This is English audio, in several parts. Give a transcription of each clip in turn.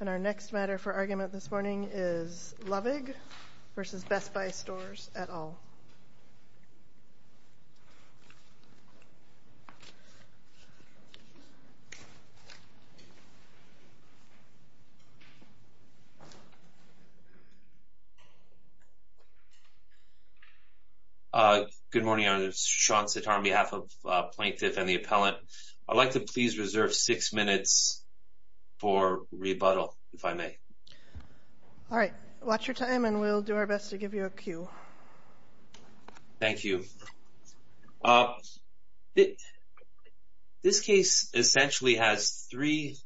And our next matter for argument this morning is Lovig v. Best Buy Stores, et al. Good morning, I'm Sean Sitar on behalf of Plaintiff and the Appellant. I'd like to please reserve six minutes for rebuttal, if I may. All right, watch your time and we'll do our best to give you a cue. Thank you. This case essentially has three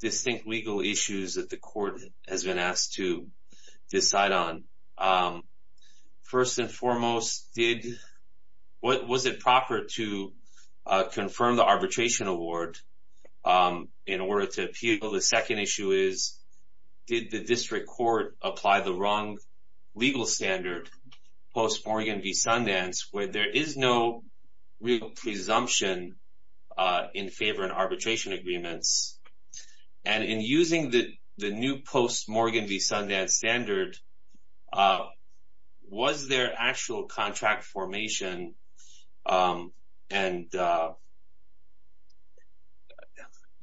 distinct legal issues that the court has been asked to decide on. First and foremost, was it proper to confirm the arbitration award in order to appeal? The second issue is, did the district court apply the wrong legal standard, post-Morgan v. Sundance, where there is no real presumption in favor in arbitration agreements? And in using the new post-Morgan v. Sundance standard, was there actual contract formation? And, you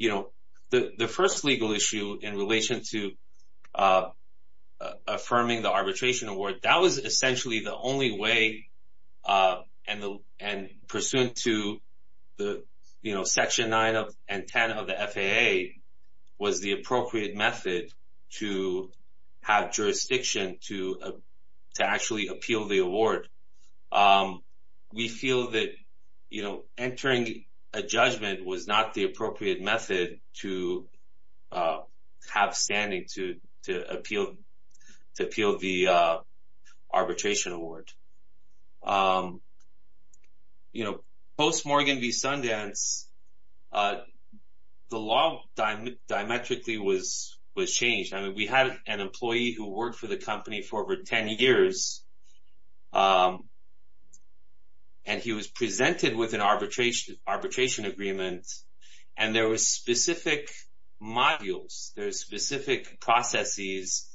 know, the first legal issue in relation to affirming the arbitration award, that was essentially the only way, and pursuant to Section 9 and 10 of the FAA, was the appropriate method to have jurisdiction to actually appeal the award. We feel that, you know, entering a judgment was not the appropriate method to have standing to appeal the arbitration award. You know, post-Morgan v. Sundance, the law diametrically was changed. I mean, we had an employee who worked for the company for over 10 years, and he was presented with an arbitration agreement, and there were specific modules, there were specific processes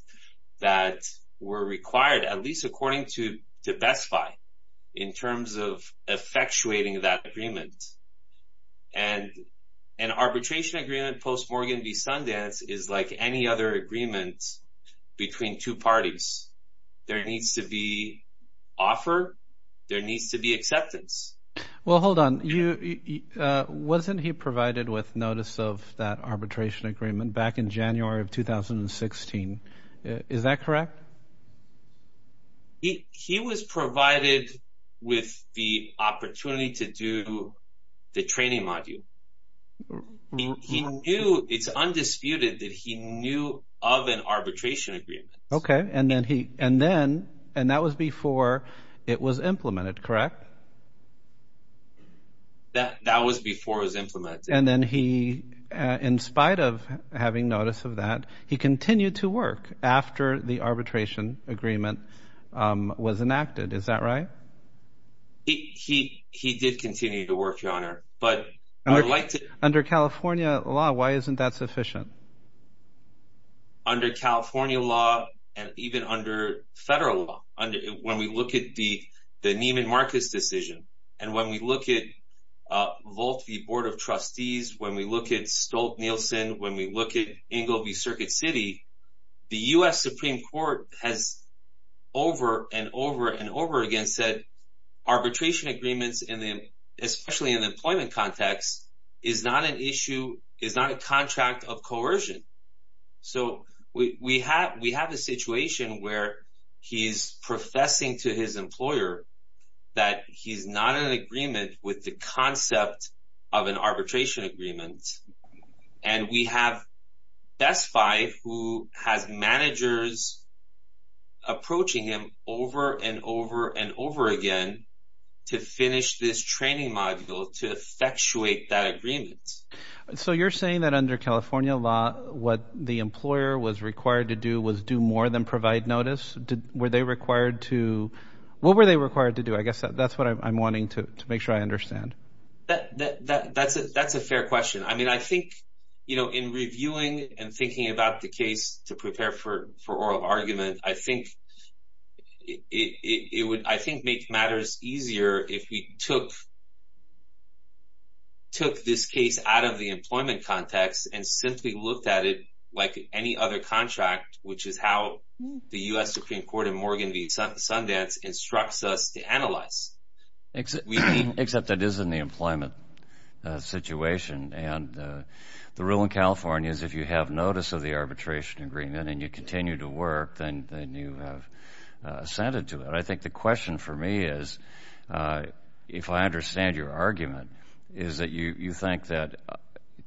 that were required, at least according to Best Buy, in terms of effectuating that agreement. And an arbitration agreement post-Morgan v. Sundance is like any other agreement between two parties. There needs to be offer, there needs to be acceptance. Well, hold on, wasn't he provided with notice of that arbitration agreement back in January of 2016? Is that correct? He was provided with the opportunity to do the training module. He knew, it's undisputed that he knew of an arbitration agreement. Okay, and that was before it was implemented, correct? That was before it was implemented. And then he, in spite of having notice of that, he continued to work after the arbitration agreement was enacted. Is that right? He did continue to work, Your Honor. Under California law, why isn't that sufficient? Under California law, and even under federal law, when we look at the Neiman Marcus decision, and when we look at Volt v. Board of Trustees, when we look at Stolt-Nielsen, when we look at Engel v. Circuit City, the U.S. Supreme Court has over and over and over again said arbitration agreements, especially in the employment context, is not an issue, is not a contract of coercion. So, we have a situation where he's professing to his employer that he's not in agreement with the concept of an arbitration agreement, and we have testified who has managers approaching him over and over and over again to finish this training module to effectuate that agreement. So, you're saying that under California law, what the employer was required to do was do more than provide notice? What were they required to do? I guess that's what I'm wanting to make sure I understand. That's a fair question. I mean, I think, you know, in reviewing and thinking about the case to prepare for oral argument, I think it would, I think, make matters easier if we took this case out of the employment context and simply looked at it like any other contract, which is how the U.S. Supreme Court in Morgan v. Sundance instructs us to analyze. Except that it is in the employment situation, and the rule in California is if you have notice of the arbitration agreement and you continue to work, then you have assented to it. I think the question for me is, if I understand your argument, is that you think that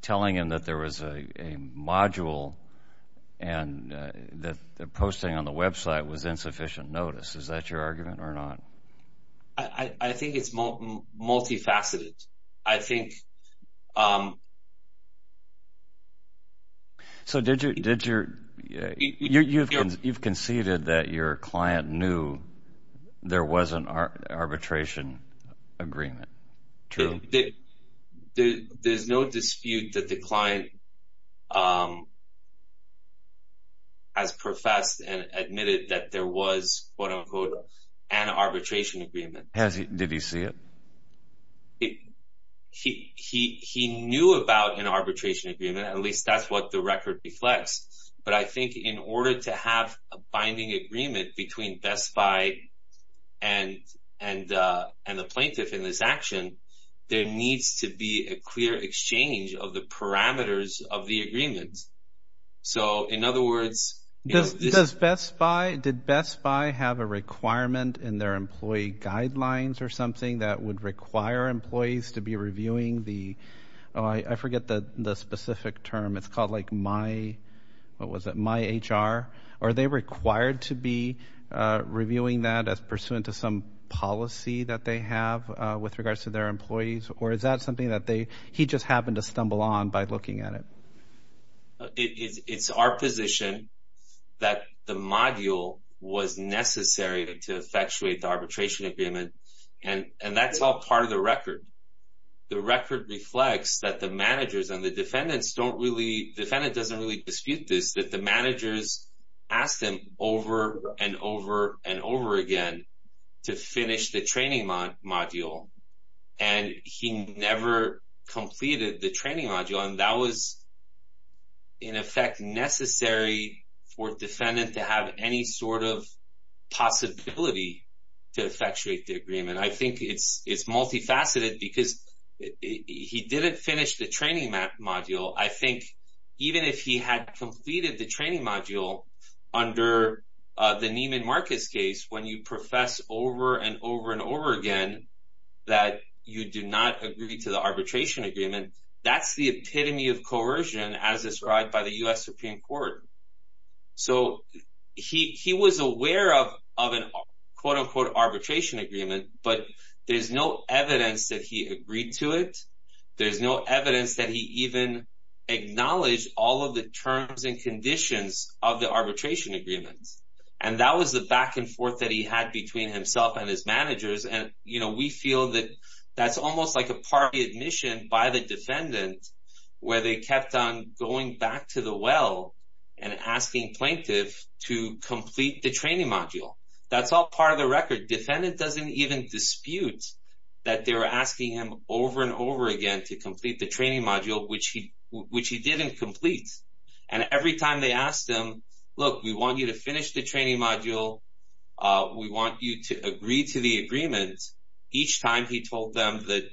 telling him that there was a module and that the posting on the website was insufficient notice. Is that your argument or not? I think it's multifaceted. So you've conceded that your client knew there was an arbitration agreement. True? There's no dispute that the client has professed and admitted that there was, quote, unquote, an arbitration agreement. Did he see it? He knew about an arbitration agreement. At least that's what the record reflects. But I think in order to have a binding agreement between Best Buy and the plaintiff in this action, there needs to be a clear exchange of the parameters of the agreement. So in other words- Did Best Buy have a requirement in their employee guidelines or something that would require employees to be reviewing the- I forget the specific term. It's called, like, my-what was it-my HR. Are they required to be reviewing that as pursuant to some policy that they have with regards to their employees? Or is that something that they-he just happened to stumble on by looking at it? It's our position that the module was necessary to effectuate the arbitration agreement. And that's all part of the record. The record reflects that the managers and the defendants don't really-the defendant doesn't really dispute this, that the managers asked him over and over and over again to finish the training module. And he never completed the training module. And that was, in effect, necessary for defendant to have any sort of possibility to effectuate the agreement. I think it's multifaceted because he didn't finish the training module. I think even if he had completed the training module under the Neiman Marcus case, when you profess over and over and over again that you do not agree to the arbitration agreement, that's the epitome of coercion as described by the U.S. Supreme Court. So he was aware of an, quote, unquote, arbitration agreement, but there's no evidence that he agreed to it. There's no evidence that he even acknowledged all of the terms and conditions of the arbitration agreement. And that was the back and forth that he had between himself and his managers. And, you know, we feel that that's almost like a party admission by the defendant where they kept on going back to the well and asking plaintiff to complete the training module. That's all part of the record. Defendant doesn't even dispute that they were asking him over and over again to complete the training module, which he didn't complete. And every time they asked him, look, we want you to finish the training module. We want you to agree to the agreement. Each time he told them that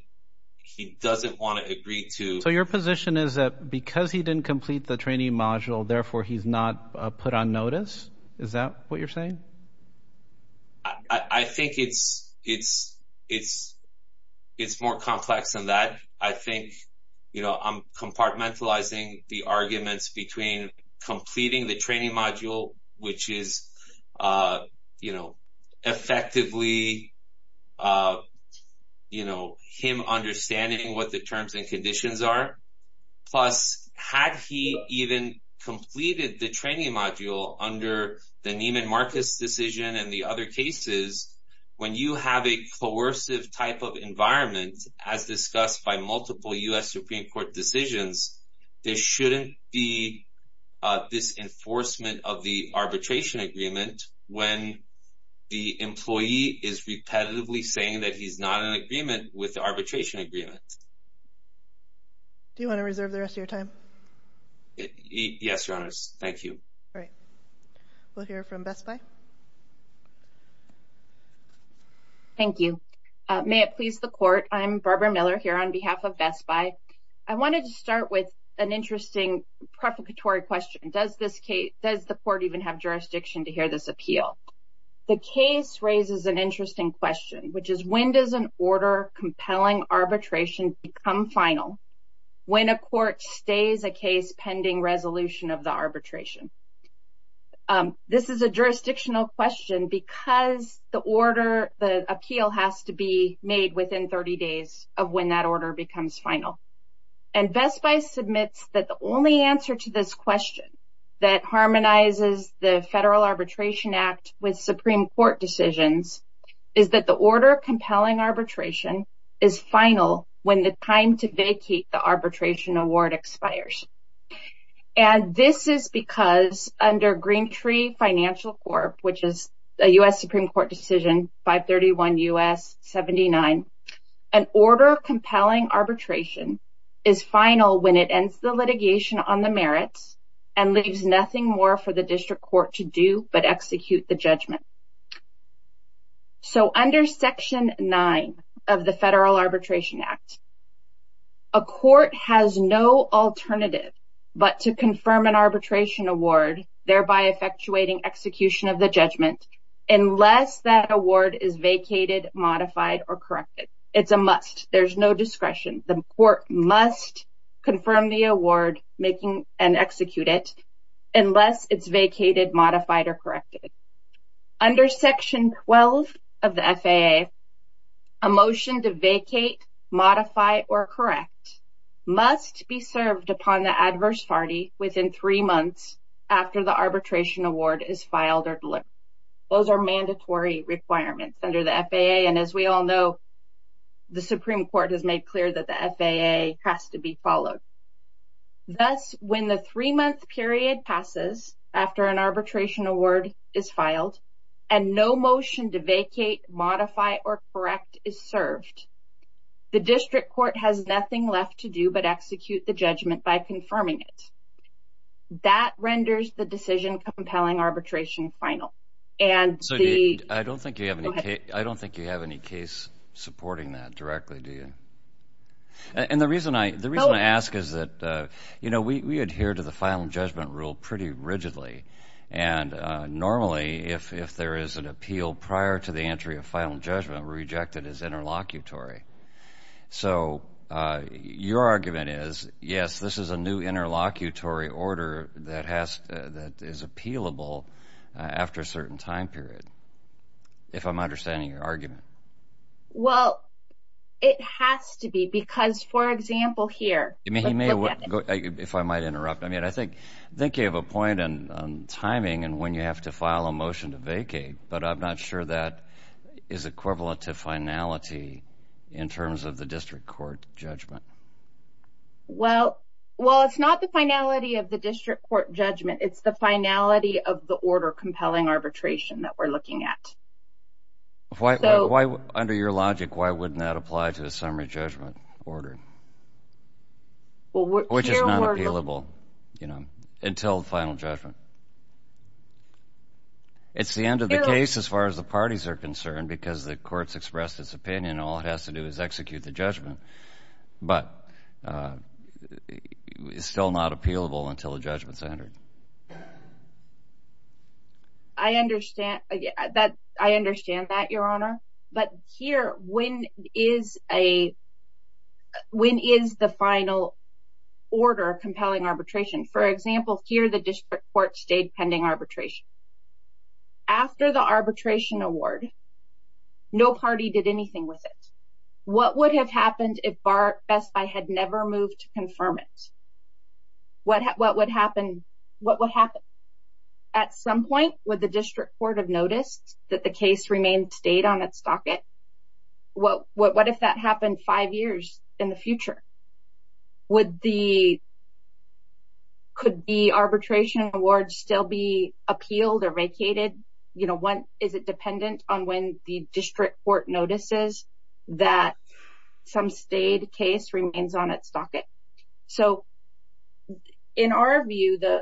he doesn't want to agree to. So your position is that because he didn't complete the training module, therefore, he's not put on notice. Is that what you're saying? I think it's more complex than that. I think, you know, I'm compartmentalizing the arguments between completing the training module, which is, you know, effectively, you know, him understanding what the terms and conditions are. Plus, had he even completed the training module under the Neiman Marcus decision and the other cases, when you have a coercive type of environment, as discussed by multiple U.S. Supreme Court decisions, there shouldn't be this enforcement of the arbitration agreement when the employee is repetitively saying that he's not in agreement with the arbitration agreement. Do you want to reserve the rest of your time? Yes, Your Honors. Thank you. All right. We'll hear from BESPAI. Thank you. May it please the Court, I'm Barbara Miller here on behalf of BESPAI. I wanted to start with an interesting prefiguratory question. Does the Court even have jurisdiction to hear this appeal? The case raises an interesting question, which is, when does an order compelling arbitration become final when a court stays a case pending resolution of the arbitration? This is a jurisdictional question because the order, the appeal, has to be made within 30 days of when that order becomes final. And BESPAI submits that the only answer to this question that harmonizes the Federal Arbitration Act with Supreme Court decisions is that the order compelling arbitration is final when the time to vacate the arbitration award expires. And this is because under Green Tree Financial Corp., which is a U.S. Supreme Court decision, 531 U.S. 79, an order compelling arbitration is final when it ends the litigation on the merits and leaves nothing more for the district court to do but execute the judgment. So under Section 9 of the Federal Arbitration Act, a court has no alternative but to confirm an arbitration award, thereby effectuating execution of the judgment, unless that award is vacated, modified, or corrected. It's a must. There's no discretion. The court must confirm the award and execute it unless it's vacated, modified, or corrected. Under Section 12 of the FAA, a motion to vacate, modify, or correct must be served upon the adverse party within three months after the arbitration award is filed or delivered. And as we all know, the Supreme Court has made clear that the FAA has to be followed. Thus, when the three-month period passes after an arbitration award is filed and no motion to vacate, modify, or correct is served, the district court has nothing left to do but execute the judgment by confirming it. That renders the decision compelling arbitration final. I don't think you have any case supporting that directly, do you? And the reason I ask is that, you know, we adhere to the final judgment rule pretty rigidly. And normally, if there is an appeal prior to the entry of final judgment, we reject it as interlocutory. So your argument is, yes, this is a new interlocutory order that is appealable after a certain time period, if I'm understanding your argument. Well, it has to be because, for example, here. If I might interrupt, I mean, I think you have a point on timing and when you have to file a motion to vacate, but I'm not sure that is equivalent to finality in terms of the district court judgment. Well, it's not the finality of the district court judgment. It's the finality of the order compelling arbitration that we're looking at. Under your logic, why wouldn't that apply to a summary judgment order? Which is not appealable, you know, until final judgment. It's the end of the case as far as the parties are concerned because the court's expressed its opinion. All it has to do is execute the judgment, but it's still not appealable until the judgment's entered. I understand that, Your Honor. But here, when is the final order compelling arbitration? For example, here the district court stayed pending arbitration. After the arbitration award, no party did anything with it. What would have happened if Barrett-Best Buy had never moved to confirm it? What would happen? At some point, would the district court have noticed that the case remained stayed on its docket? What if that happened five years in the future? Could the arbitration award still be appealed or vacated? Is it dependent on when the district court notices that some stayed case remains on its docket? So, in our view, the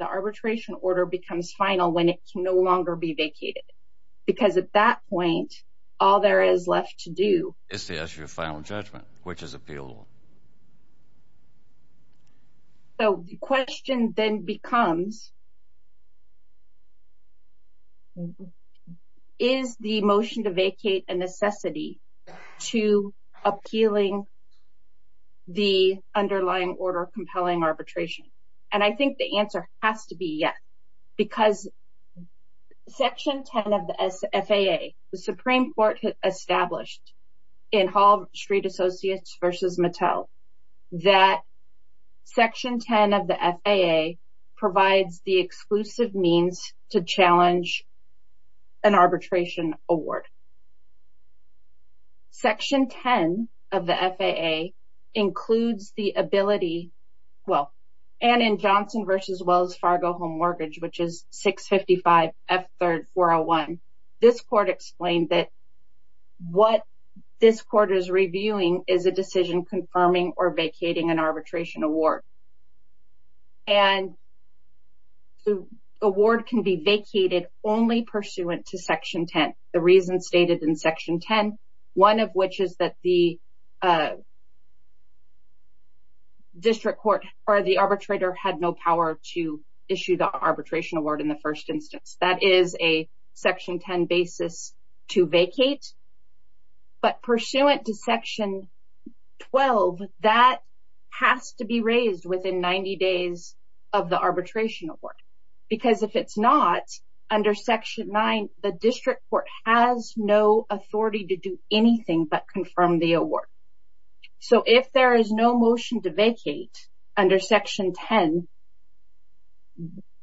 arbitration order becomes final when it can no longer be vacated. Because at that point, all there is left to do is to issue a final judgment, which is appealable. So the question then becomes, is the motion to vacate a necessity to appealing the underlying order compelling arbitration? And I think the answer has to be yes. Because Section 10 of the FAA, the Supreme Court established in Hall Street Associates v. Mattel, that Section 10 of the FAA provides the exclusive means to challenge an arbitration award. Section 10 of the FAA includes the ability, well, and in Johnson v. Wells Fargo Home Mortgage, which is 655F3401, this court explained that what this court is reviewing is a decision confirming or vacating an arbitration award. And the award can be vacated only pursuant to Section 10. The reason stated in Section 10, one of which is that the district court or the arbitrator had no power to issue the arbitration award in the first instance. That is a Section 10 basis to vacate. But pursuant to Section 12, that has to be raised within 90 days of the arbitration award. Because if it's not, under Section 9, the district court has no authority to do anything but confirm the award. So if there is no motion to vacate under Section 10,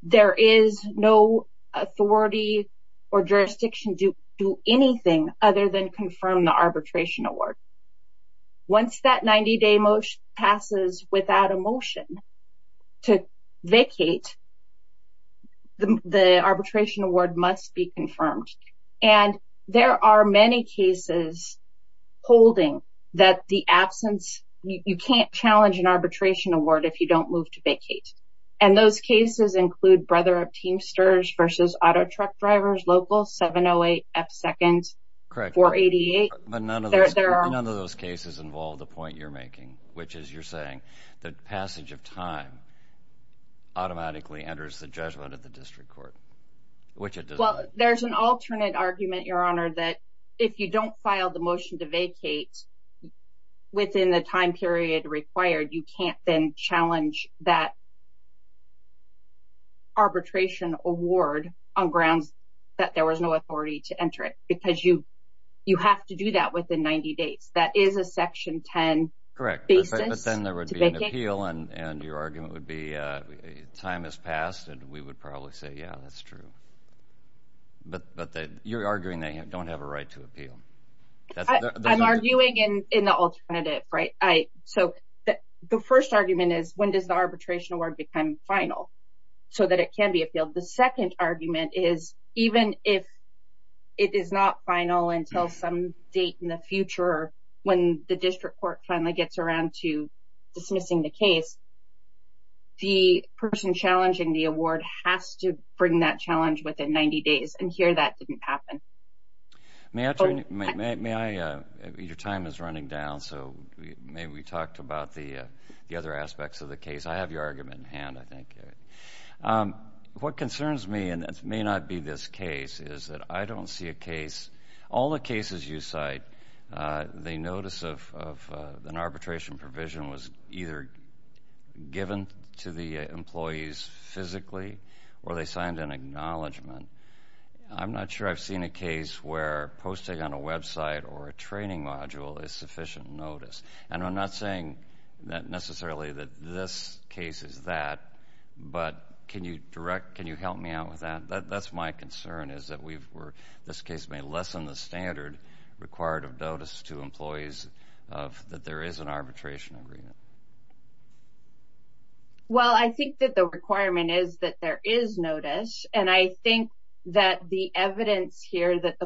there is no authority or jurisdiction to do anything other than confirm the arbitration award. Once that 90-day motion passes without a motion to vacate, the arbitration award must be confirmed. And there are many cases holding that the absence, you can't challenge an arbitration award if you don't move to vacate. And those cases include Brother of Teamsters v. Auto Truck Drivers Local 708F2nd 488. But none of those cases involve the point you're making, which is you're saying that passage of time automatically enters the judgment of the district court. Well, there's an alternate argument, Your Honor, that if you don't file the motion to vacate within the time period required, you can't then challenge that arbitration award on grounds that there was no authority to enter it. Because you have to do that within 90 days. That is a Section 10 basis to vacate. But then there would be an appeal, and your argument would be time has passed, and we would probably say, yeah, that's true. But you're arguing they don't have a right to appeal. I'm arguing in the alternative, right? So the first argument is, when does the arbitration award become final so that it can be appealed? The second argument is, even if it is not final until some date in the future, when the district court finally gets around to dismissing the case, the person challenging the award has to bring that challenge within 90 days. And here, that didn't happen. Your time is running down, so maybe we talked about the other aspects of the case. I have your argument in hand, I think. What concerns me, and it may not be this case, is that I don't see a case. All the cases you cite, the notice of an arbitration provision was either given to the employees physically or they signed an acknowledgement. I'm not sure I've seen a case where posting on a website or a training module is sufficient notice. And I'm not saying necessarily that this case is that, but can you help me out with that? That's my concern, is that this case may lessen the standard required of notice to employees that there is an arbitration agreement. Well, I think that the requirement is that there is notice. And I think that the evidence here that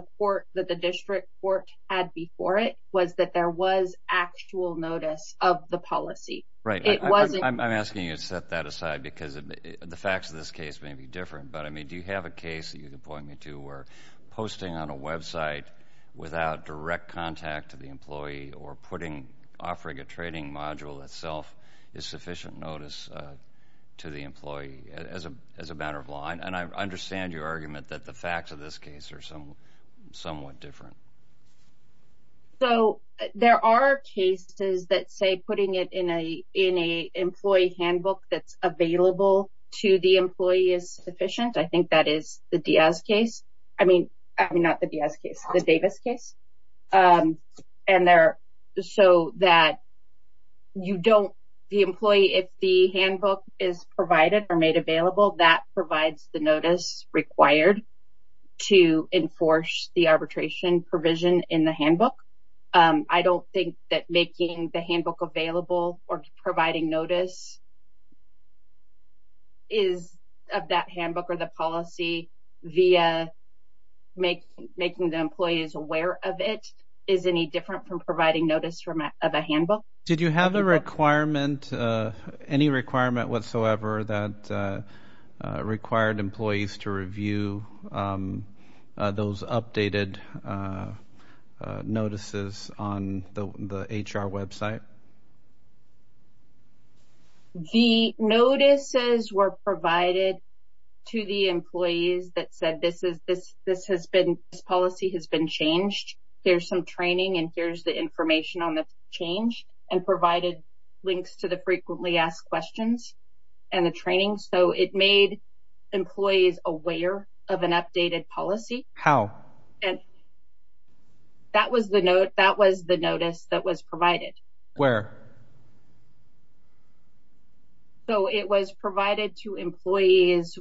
the district court had before it was that there was actual notice of the policy. I'm asking you to set that aside, because the facts of this case may be different. But, I mean, do you have a case that you can point me to where posting on a website without direct contact to the employee or offering a training module itself is sufficient notice to the employee as a matter of law? And I understand your argument that the facts of this case are somewhat different. So there are cases that say putting it in an employee handbook that's available to the employee is sufficient. I think that is the Diaz case. I mean, not the Diaz case, the Davis case. And they're so that you don't, the employee, if the handbook is provided or made available, that provides the notice required to enforce the arbitration provision in the handbook. I don't think that making the handbook available or providing notice is of that handbook or the policy via making the employees aware of it is any different from providing notice of a handbook. Did you have a requirement, any requirement whatsoever, that required employees to review those updated notices on the HR website? The notices were provided to the employees that said this has been, this policy has been changed. Here's some training and here's the information on the change and provided links to the frequently asked questions and the training. So it made employees aware of an updated policy. How? And that was the note, that was the notice that was provided. Where? So it was provided to employees.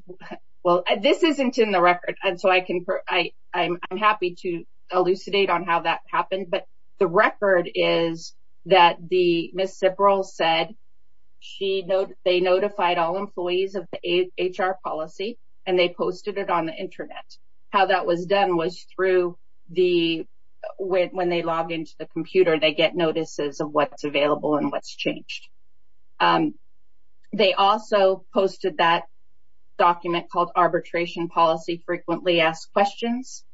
Well, this isn't in the record. And so I can, I'm happy to elucidate on how that happened. But the record is that the Ms. Sibrel said she, they notified all employees of the HR policy and they posted it on the Internet. How that was done was through the, when they log into the computer, they get notices of what's available and what's changed. They also posted that document called Arbitration Policy Frequently Asked Questions.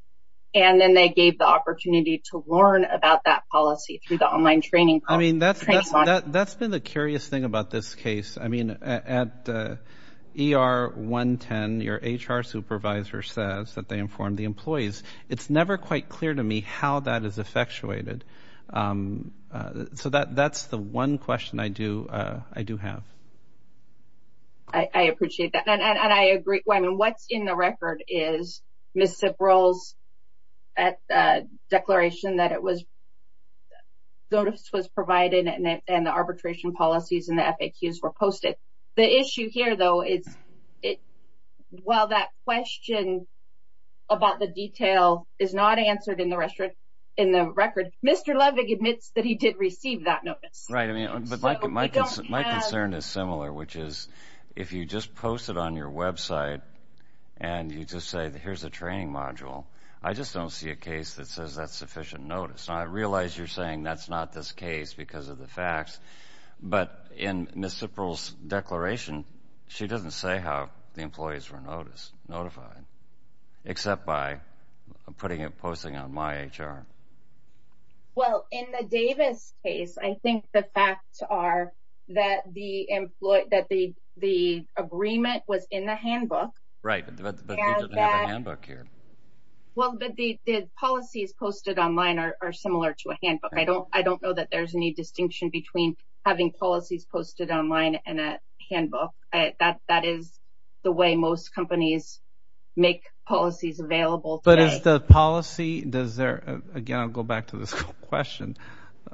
And then they gave the opportunity to learn about that policy through the online training. I mean, that's been the curious thing about this case. I mean, at ER 110, your HR supervisor says that they informed the employees. It's never quite clear to me how that is effectuated. So that's the one question I do have. I appreciate that. And I agree. What's in the record is Ms. Sibrel's declaration that it was, notice was provided and the arbitration policies and the FAQs were posted. The issue here, though, is while that question about the detail is not answered in the record, Mr. Levig admits that he did receive that notice. Right. I mean, my concern is similar, which is if you just post it on your website and you just say, here's a training module, I just don't see a case that says that's sufficient notice. I realize you're saying that's not this case because of the facts. But in Ms. Sibrel's declaration, she doesn't say how the employees were notified, except by putting it, posting it on MyHR. Well, in the Davis case, I think the facts are that the employee, that the agreement was in the handbook. Right. The handbook here. Well, the policies posted online are similar to a handbook. I don't know that there's any distinction between having policies posted online and a handbook. That is the way most companies make policies available. But is the policy, does there, again, I'll go back to this question.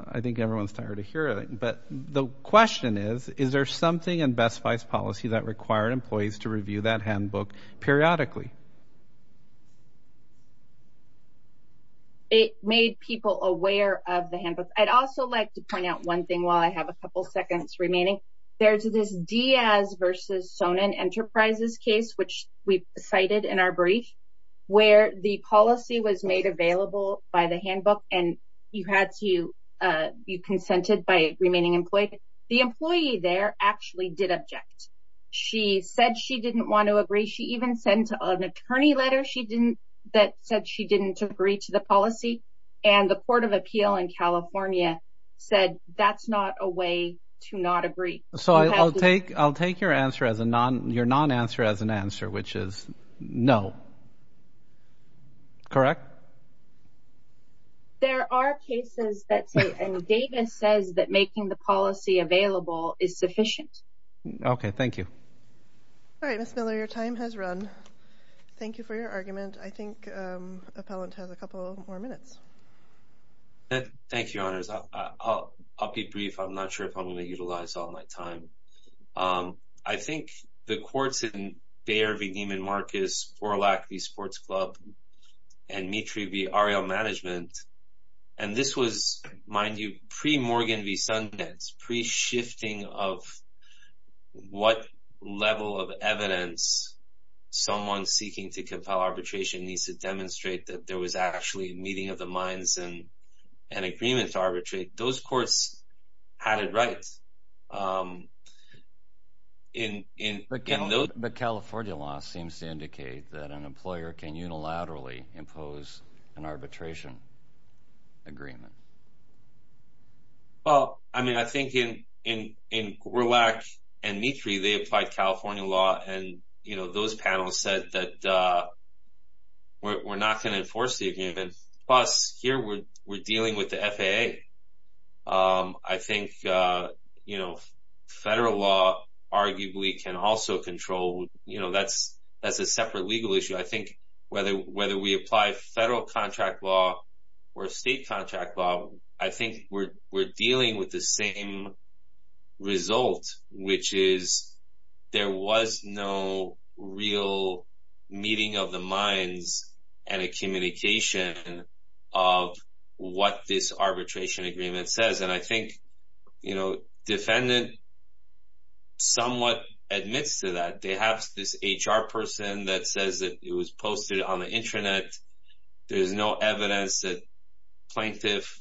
I think everyone's tired of hearing it. But the question is, is there something in Best Buy's policy that required employees to review that handbook periodically? It made people aware of the handbook. I'd also like to point out one thing while I have a couple seconds remaining. There's this Diaz v. Sonin Enterprises case, which we cited in our brief, where the policy was made available by the handbook and you had to be consented by a remaining employee. The employee there actually did object. She said she didn't want to agree. She even sent an attorney letter that said she didn't agree to the policy. And the Court of Appeal in California said that's not a way to not agree. So I'll take your non-answer as an answer, which is no. Correct? There are cases that say, and Davis says that making the policy available is sufficient. Okay, thank you. All right, Ms. Miller, your time has run. Thank you for your argument. I think Appellant has a couple more minutes. Thank you, Your Honors. I'll be brief. I'm not sure if I'm going to utilize all my time. I think the courts in Bayer v. Neiman Marcus, Borlak v. Sports Club, and Mitri v. Ariel Management, and this was, mind you, pre-Morgan v. Sundance, pre-shifting of what level of evidence someone seeking to compel arbitration needs to demonstrate that there was actually a meeting of the minds and an agreement to arbitrate. Those courts had it right. But California law seems to indicate that an employer can unilaterally impose an arbitration agreement. Well, I mean, I think in Borlak and Mitri, they applied California law, and those panels said that we're not going to enforce the agreement. Plus, here we're dealing with the FAA. I think, you know, federal law arguably can also control. You know, that's a separate legal issue. I think whether we apply federal contract law or state contract law, I think we're dealing with the same result, which is there was no real meeting of the minds and a communication of what this arbitration agreement says. And I think, you know, defendant somewhat admits to that. They have this HR person that says that it was posted on the intranet. There's no evidence that plaintiff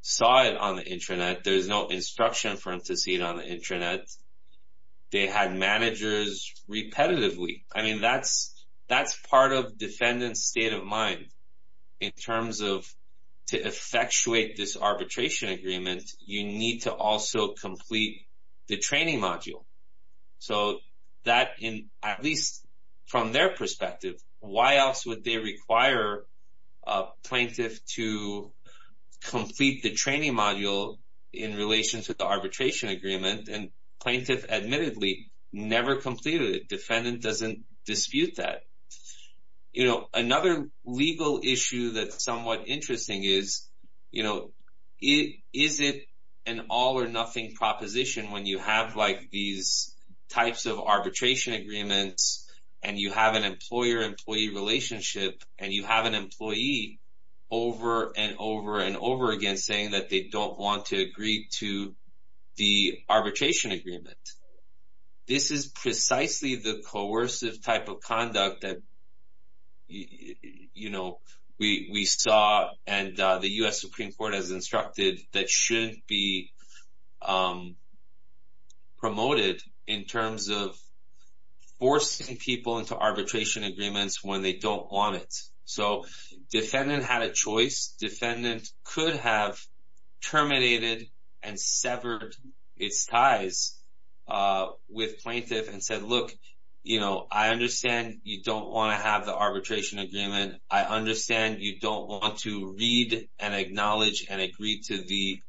saw it on the intranet. There's no instruction for him to see it on the intranet. They had managers repetitively. I mean, that's part of defendant's state of mind in terms of to effectuate this arbitration agreement, you need to also complete the training module. So that, at least from their perspective, why else would they require a plaintiff to complete the training module in relation to the arbitration agreement? And plaintiff admittedly never completed it. Defendant doesn't dispute that. You know, another legal issue that's somewhat interesting is, you know, is it an all or nothing proposition when you have like these types of arbitration agreements and you have an employer-employee relationship and you have an employee over and over and over again saying that they don't want to agree to the arbitration agreement? This is precisely the coercive type of conduct that, you know, we saw and the U.S. Supreme Court has instructed that shouldn't be promoted in terms of forcing people into arbitration agreements when they don't want it. So defendant had a choice. Defendant could have terminated and severed its ties with plaintiff and said, look, you know, I understand you don't want to have the arbitration agreement. I understand you don't want to read and acknowledge and agree to the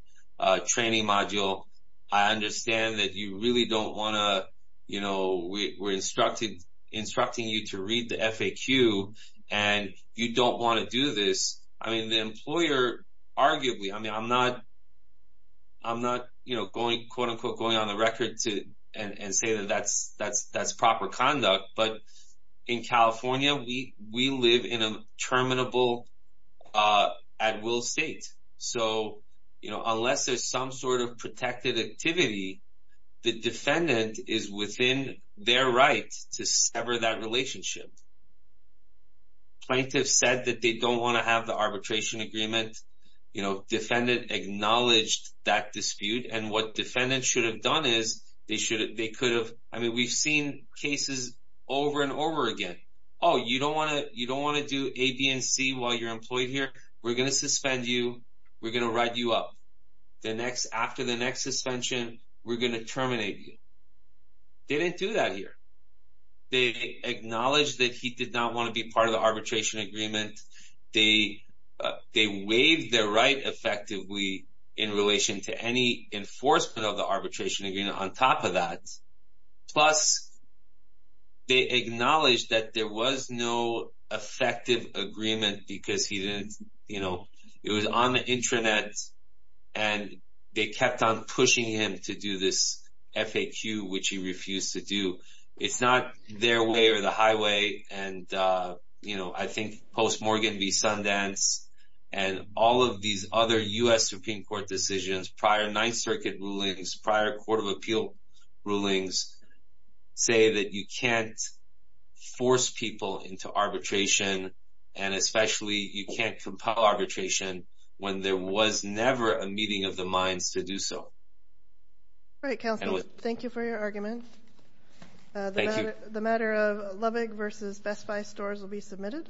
training module. I understand that you really don't want to, you know, we're instructing you to read the FAQ and you don't want to do this. I mean, the employer arguably, I mean, I'm not, you know, going, quote, unquote, going on the record and say that that's proper conduct. But in California, we live in a terminable at-will state. So, you know, unless there's some sort of protected activity, the defendant is within their right to sever that relationship. Plaintiff said that they don't want to have the arbitration agreement. You know, defendant acknowledged that dispute. And what defendant should have done is they should have, they could have. I mean, we've seen cases over and over again. Oh, you don't want to, you don't want to do A, B and C while you're employed here. We're going to suspend you. We're going to write you up. The next, after the next suspension, we're going to terminate you. They didn't do that here. They acknowledged that he did not want to be part of the arbitration agreement. They waived their right effectively in relation to any enforcement of the arbitration agreement on top of that. Plus, they acknowledged that there was no effective agreement because he didn't, you know, it was on the intranet. And they kept on pushing him to do this FAQ, which he refused to do. It's not their way or the highway. And, you know, I think post-Morgan v. Sundance and all of these other U.S. Supreme Court decisions, prior Ninth Circuit rulings, prior Court of Appeal rulings say that you can't force people into arbitration, and especially you can't compel arbitration when there was never a meeting of the minds to do so. All right, counsel. Thank you for your argument. Thank you. The matter of Lubbock v. Best Buy stores will be submitted.